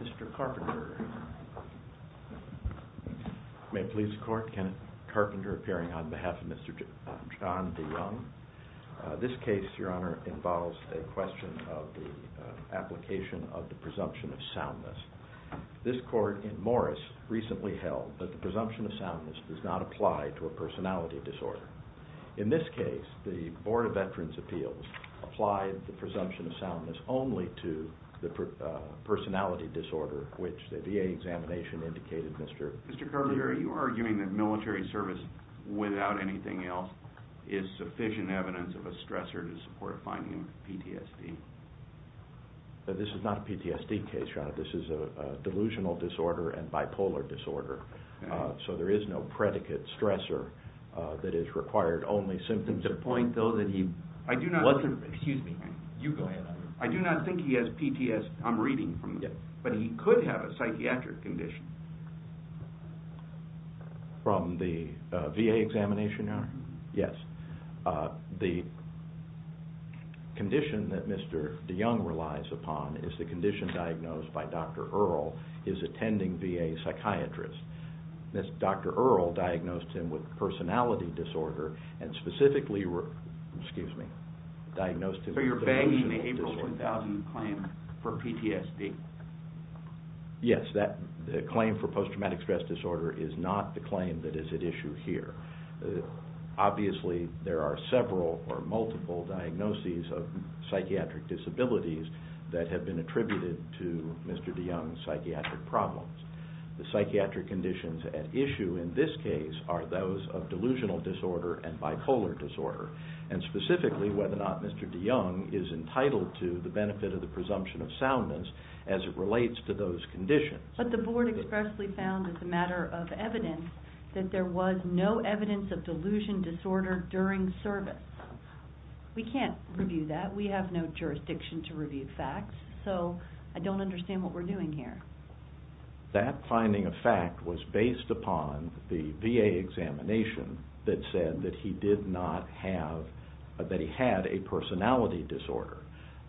Mr. Carpenter. May it please the court, Kenneth Carpenter appearing on behalf of John DeYoung. This case involves a question of the application of the presumption of soundness. This court in Morris recently held that the presumption of soundness does not apply to a personality disorder. In this case, the Board of Veterans' Appeals applied the presumption of soundness only to the personality disorder, which the VA examination indicated Mr. DEYOUNG. Mr. Carpenter, are you arguing that military service without anything else is sufficient evidence of a stressor to support a finding of PTSD? This is not a PTSD case, John. This is a delusional disorder and bipolar disorder, so there is no predicate stressor that is required, only symptoms of... The point, though, that he wasn't... I do not... Excuse me. You go ahead. I do not think he has PTSD. I'm reading from the... Yes. But he could have a psychiatric condition. From the VA examination, Your Honor? Yes. The condition that Mr. DeYoung relies upon is the condition diagnosed by Dr. Earle, his attending VA psychiatrist. Dr. Earle diagnosed him with personality disorder and specifically... Excuse me. Diagnosed him with a delusional disorder. So you're bagging the April 2000 claim for PTSD? Yes. The claim for post-traumatic stress disorder is not the claim that is at issue here. Obviously, there are several or multiple diagnoses of psychiatric disabilities that have been attributed to Mr. DeYoung's psychiatric problems. The psychiatric conditions at issue in this case are those of delusional disorder and bipolar disorder, and specifically whether or not Mr. DeYoung is entitled to the benefit of the presumption of soundness as it relates to those conditions. But the board expressly found, as a matter of evidence, that there was no evidence of a disorder during service. We can't review that. We have no jurisdiction to review facts, so I don't understand what we're doing here. That finding of fact was based upon the VA examination that said that he did not have... that he had a personality disorder.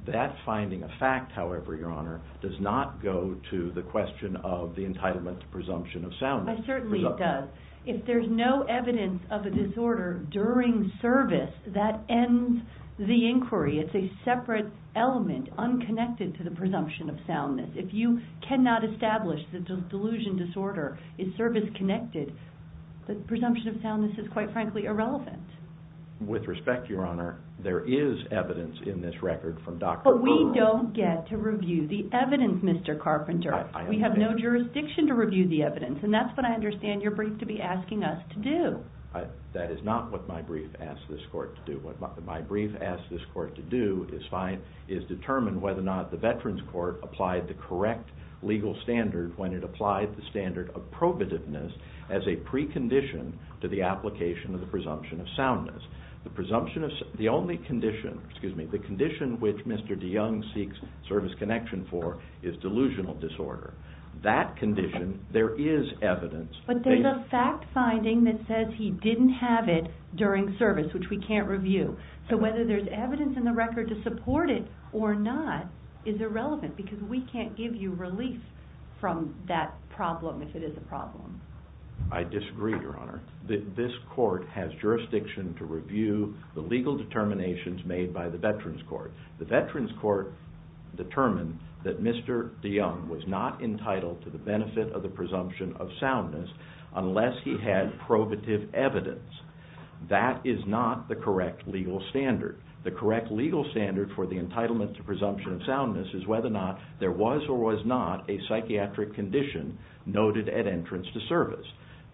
That finding of fact, however, Your Honor, does not go to the question of the entitlement to presumption of soundness. It certainly does. If there's no evidence of a disorder during service, that ends the inquiry. It's a separate element, unconnected to the presumption of soundness. If you cannot establish that delusion disorder is service-connected, the presumption of soundness is quite frankly irrelevant. With respect, Your Honor, there is evidence in this record from Dr. Carpenter. But we don't get to review the evidence, Mr. Carpenter. We have no jurisdiction to review the evidence, and that's what I understand your brief to be asking us to do. That is not what my brief asked this court to do. What my brief asked this court to do is determine whether or not the Veterans Court applied the correct legal standard when it applied the standard of probativeness as a precondition to the application of the presumption of soundness. The presumption of... the only condition, excuse me, the condition which there is evidence... But there's a fact-finding that says he didn't have it during service, which we can't review. So whether there's evidence in the record to support it or not is irrelevant, because we can't give you relief from that problem if it is a problem. I disagree, Your Honor. This court has jurisdiction to review the legal determinations made by the Veterans Court. The Veterans Court determined that Mr. DeYoung was not entitled to the benefit of the presumption of soundness unless he had probative evidence. That is not the correct legal standard. The correct legal standard for the entitlement to presumption of soundness is whether or not there was or was not a psychiatric condition noted at entrance to service.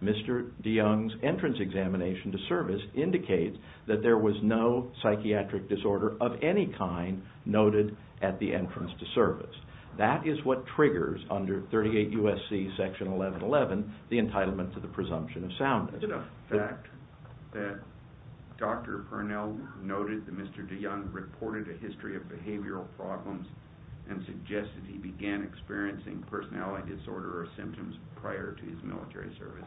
Mr. DeYoung's entrance examination to service indicates that there was no psychiatric disorder of any kind noted at the entrance to service. That is what triggers, under 38 U.S.C. Section 1111, the entitlement to the presumption of soundness. Is it a fact that Dr. Purnell noted that Mr. DeYoung reported a history of behavioral problems and suggested he began experiencing personality disorder or symptoms prior to his military service?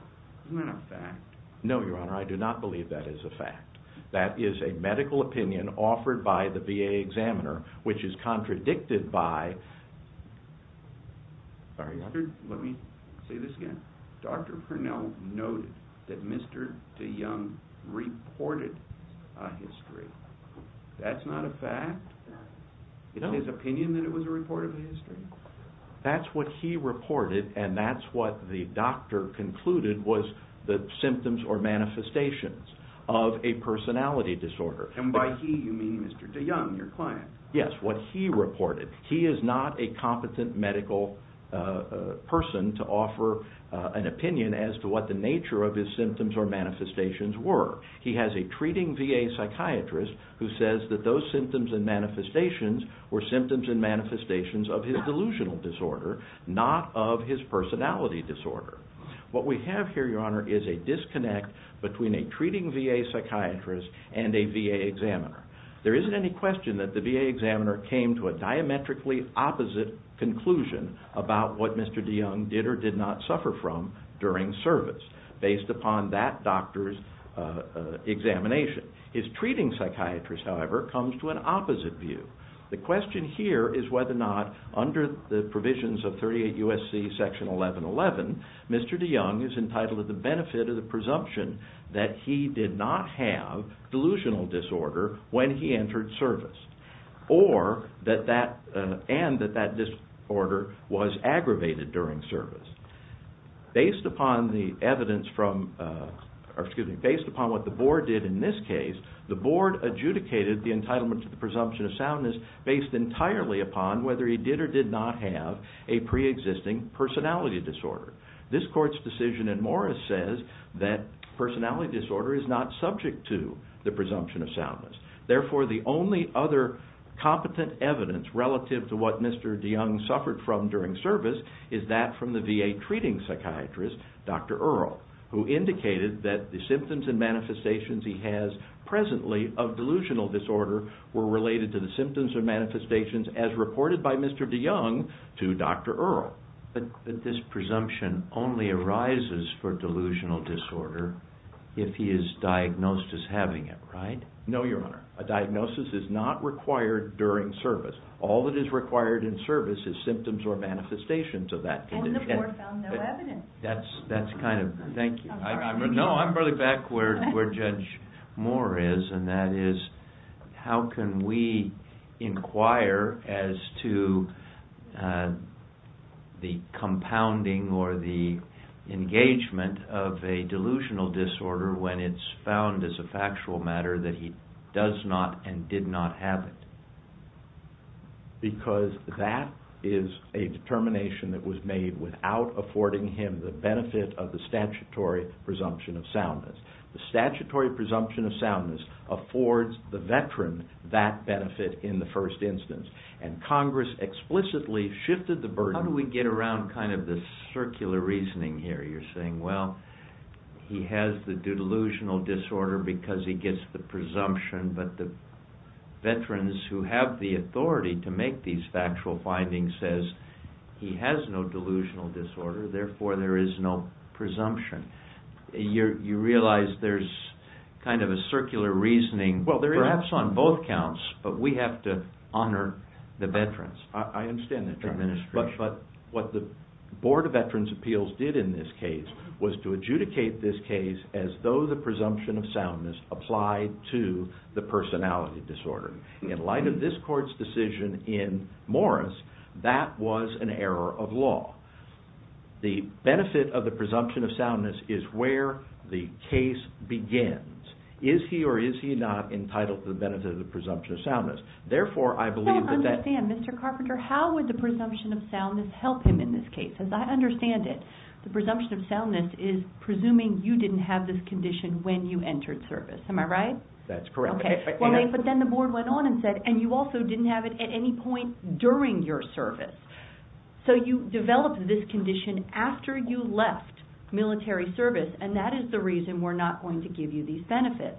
Isn't that a fact? No, Your Honor. I do not believe that is a fact. That is a medical opinion offered by the VA examiner, which is contradicted by... Let me say this again. Dr. Purnell noted that Mr. DeYoung reported a history. That's not a fact? It's his opinion that it was a report of a history? That's what he reported and that's what the doctor concluded was the symptoms or manifestations of a personality disorder. And by he, you mean Mr. DeYoung, your client? Yes, what he reported. He is not a competent medical person to offer an opinion as to what the nature of his symptoms or manifestations were. He has a treating VA psychiatrist who says that those symptoms and manifestations were symptoms and manifestations of his delusional disorder, not of his personality disorder. What we have here, Your Honor, is a disconnect between a treating VA psychiatrist and a VA examiner. There isn't any question that the VA examiner came to a diametrically opposite conclusion about what Mr. DeYoung did or did not suffer from during service based upon that doctor's examination. His treating psychiatrist, however, comes to an opposite view. The question here is whether or not under the provisions of 38 U.S.C. Section 1111, Mr. DeYoung is entitled to the benefit of the presumption that he did not have delusional disorder when he entered service and that that disorder was aggravated during service. Based upon what the board did in this case, the board adjudicated the entitlement to the presumption of soundness based entirely upon whether he did or did not have a pre-existing personality disorder. This court's decision in Morris says that personality disorder is not subject to the presumption of soundness. Therefore, the only other competent evidence relative to what Mr. DeYoung suffered from during service is that from the VA treating psychiatrist, Dr. DeYoung's manifestations he has presently of delusional disorder were related to the symptoms or manifestations as reported by Mr. DeYoung to Dr. Earle. But this presumption only arises for delusional disorder if he is diagnosed as having it, right? No, Your Honor. A diagnosis is not required during service. All that is required in service is symptoms or manifestations of that condition. And the board found no evidence. That's kind of... Thank you. No, I'm really back where Judge Moore is, and that is how can we inquire as to the compounding or the engagement of a delusional disorder when it's found as a factual matter that he does not and did not have it? Because that is a determination that was made without affording him the benefit of the statutory presumption of soundness. The statutory presumption of soundness affords the veteran that benefit in the first instance, and Congress explicitly shifted the burden... How do we get around kind of the circular reasoning here? You're saying, well, he has the delusional disorder because he gets the presumption, but the veterans who have the authority to make these factual findings says he has no delusional disorder, therefore there is no presumption. You realize there's kind of a circular reasoning perhaps on both counts, but we have to honor the veterans. I understand that, Your Honor. But what the Board of Veterans' Appeals did in this case was to apply to the personality disorder. In light of this court's decision in Morris, that was an error of law. The benefit of the presumption of soundness is where the case begins. Is he or is he not entitled to the benefit of the presumption of soundness? Therefore, I believe that... I don't understand, Mr. Carpenter. How would the presumption of soundness help him in this case? As I understand it, the presumption of soundness is presuming you didn't have this condition when you entered service. Am I right? That's correct. But then the Board went on and said, and you also didn't have it at any point during your service. So you developed this condition after you left military service, and that is the reason we're not going to give you these benefits.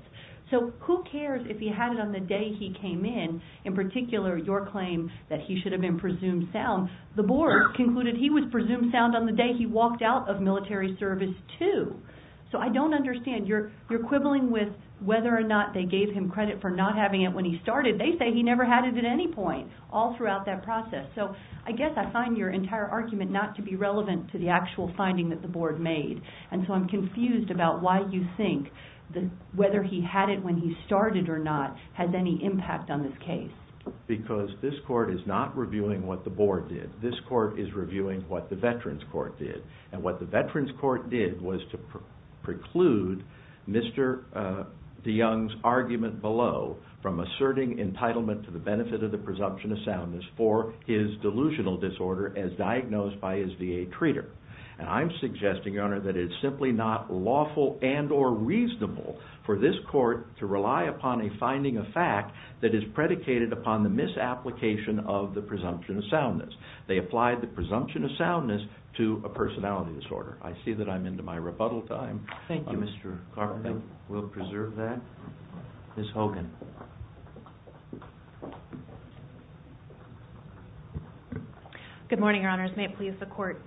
So who cares if he had it on the day he came in, in particular your claim that he should have been presumed sound? The Board concluded he was presumed sound on the day he walked out of military service, too. So I don't understand. You're quibbling with whether or not they gave him credit for not having it when he started. They say he never had it at any point all throughout that process. So I guess I find your entire argument not to be relevant to the actual finding that the Board made. And so I'm confused about why you think whether he had it when he started or not has any impact on this case. Because this Court is not reviewing what the Board did. This Court is reviewing what the Veterans Court did. And what the Veterans Court did was to preclude Mr. de Young's argument below from asserting entitlement to the benefit of the presumption of soundness for his delusional disorder as diagnosed by his VA treater. And I'm suggesting, Your Honor, that it's simply not lawful and or reasonable for this Court to rely upon a finding of fact that is predicated upon the misapplication of the presumption of soundness. They applied the presumption of soundness to a personality disorder. I see that I'm into my rebuttal time. Thank you, Mr. Carpenter. We'll preserve that. Ms. Hogan. Good morning, Your Honors. May it please the Court.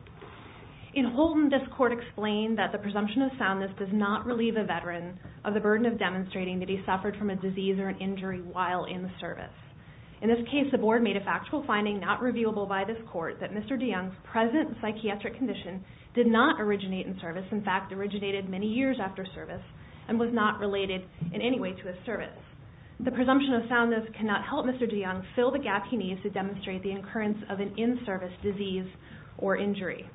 In Holton, this Court explained that the presumption of soundness does not relieve a Veteran of the burden of demonstrating that he suffered from a disease or an injury while in service. In this case, the Board made a factual finding not reviewable by this Court that Mr. de Young's present psychiatric condition did not originate in service. In fact, it originated many years after service and was not related in any way to his service. The presumption of soundness cannot help Mr. de Young fill the gap he needs to demonstrate the occurrence of an in-service disease or injury.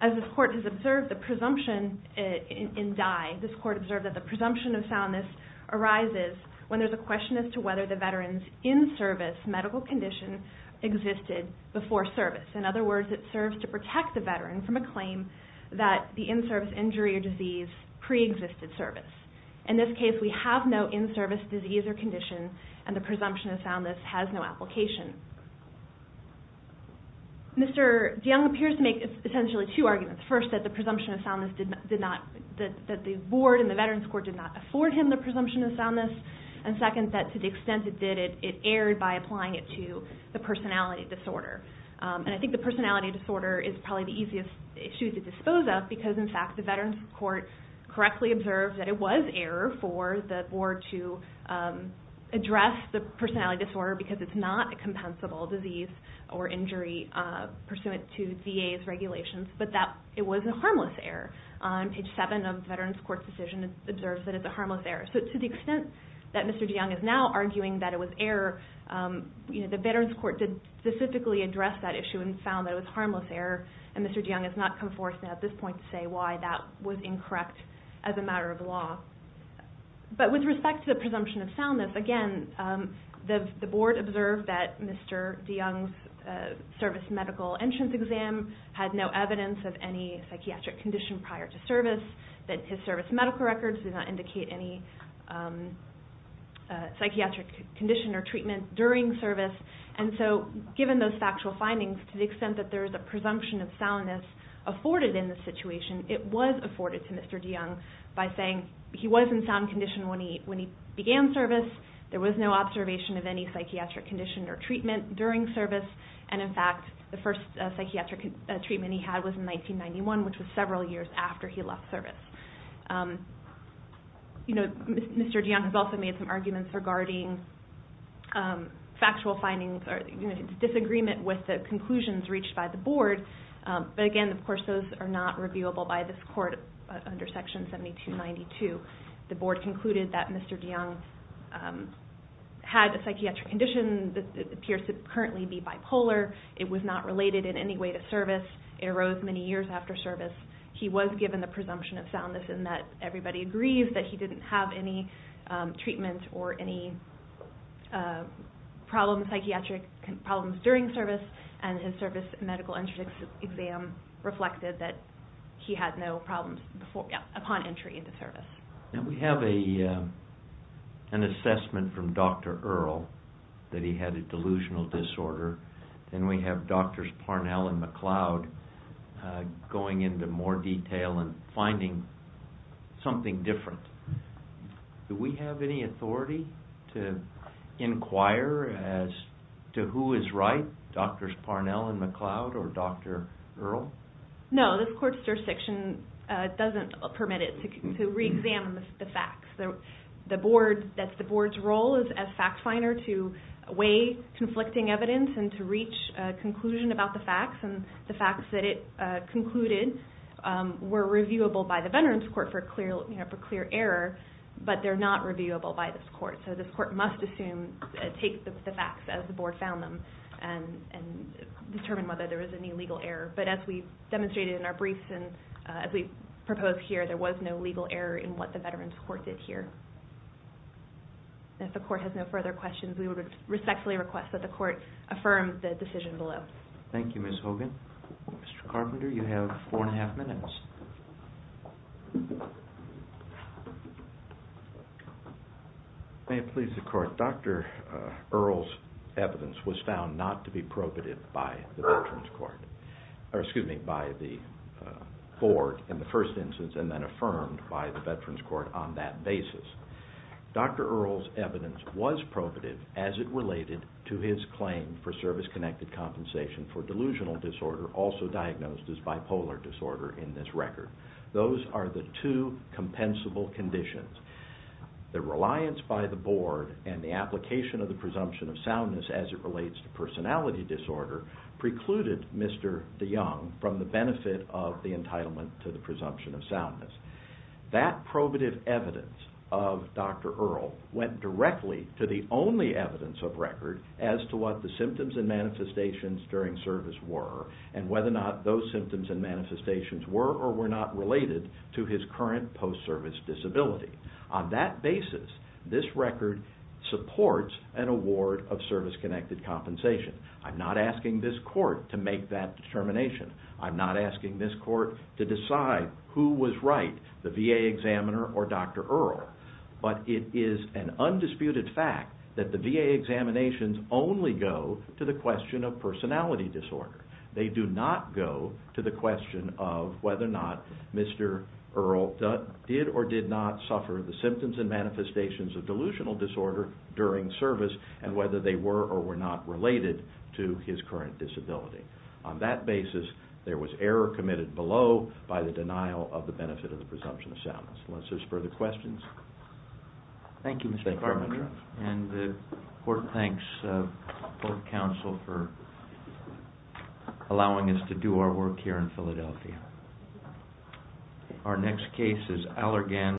As this Court has observed, the presumption in Dye, this Court observed that the presumption of soundness arises when there's a question as to whether the Veteran's in-service medical condition existed before service. In other words, it serves to protect the Veteran from a claim that the in-service injury or disease preexisted service. In this case, we have no in-service disease or condition and the presumption of soundness has no application. Mr. de Young appears to make essentially two arguments. First, that the Board and the Veteran's Court did not afford him the presumption of soundness and second, that to the extent it did, it erred by applying it to the personality disorder. I think the personality disorder is probably the easiest issue to dispose of because, in fact, the Veteran's Court correctly observed that it was error for the Board to address the personality disorder because it's not a compensable disease or injury pursuant to VA's regulations, but that it was a harmless error. On page 7 of the Veteran's Court's decision, it observes that it's a harmless error. So to the extent that Mr. de Young is now arguing that it was error, the Veteran's Court did specifically address that issue and found that it was harmless error and Mr. de Young has not come forth at this point to say why that was incorrect as a matter of law. But with respect to the presumption of soundness, again, the Board observed that Mr. de Young's service medical entrance exam had no evidence of any psychiatric condition prior to service, that his service medical records did not indicate any psychiatric condition or treatment during service. And so given those factual findings, to the extent that there is a presumption of soundness afforded in this situation, it was afforded to Mr. de Young by saying he was in sound condition when he began service, there was no observation of any psychiatric condition or treatment during service, and, in fact, the first psychiatric treatment he had was in 1991, which was several years after he left service. You know, Mr. de Young has also made some arguments regarding factual findings or disagreement with the conclusions reached by the Board, but again, of course, those are not reviewable by this Court under Section 7292. The Board concluded that Mr. de Young had a psychiatric condition that appears to currently be bipolar. It was not related in any way to service. It arose many years after service. He was given the presumption of soundness in that everybody agrees that he didn't have any treatment or any psychiatric problems during service, and his service medical entrance exam reflected that he had no problems upon entry into service. We have an assessment from Dr. Earle that he had a delusional disorder, and we have Drs. Parnell and McLeod going into more detail and finding something different. Do we have any authority to inquire as to who is right, Drs. Parnell and McLeod or Dr. Earle? No, this Court's jurisdiction doesn't permit it to reexamine the facts. That's the Board's role as fact finder to weigh conflicting evidence and to reach a conclusion about the facts, and the facts that it concluded were reviewable by the Veterans Court for clear error, but they're not reviewable by this Court. So this Court must assume, take the facts as the Board found them and determine whether there was any legal error. But as we've demonstrated in our briefs and as we've proposed here, there was no legal error in what the Veterans Court did here. If the Court has no further questions, we would respectfully request that the Court affirm the decision below. Thank you, Ms. Hogan. Mr. Carpenter, you have four and a half minutes. May it please the Court. Dr. Earle's evidence was found not to be probative by the Board in the first instance, and then affirmed by the Veterans Court on that basis. Dr. Earle's evidence was probative as it related to his claim for service-connected compensation for delusional disorder, also diagnosed as bipolar disorder in this record. Those are the two compensable conditions. The reliance by the Board and the application of the presumption of soundness as it relates to personality disorder precluded Mr. DeYoung from the benefit of the entitlement to the presumption of soundness. That probative evidence of Dr. Earle went directly to the only evidence of record as to what the symptoms and manifestations during service were and whether or not those symptoms and manifestations were or were not related to his current post-service disability. On that basis, this record supports an award of service-connected compensation. I'm not asking this Court to make that determination. I'm not asking this Court to decide who was right, the VA examiner or Dr. Earle. But it is an undisputed fact that the VA examinations only go to the question of personality disorder. They do not go to the question of whether or not Mr. Earle did or did not suffer the symptoms and manifestations of delusional disorder during service and whether they were or were not related to his current disability. On that basis, there was error committed below by the denial of the benefit of the presumption of soundness. Unless there's further questions. Thank you, Mr. Carpenter. And the Court thanks the Board of Counsel for allowing us to do our work here in Philadelphia. Our next case is Allergan.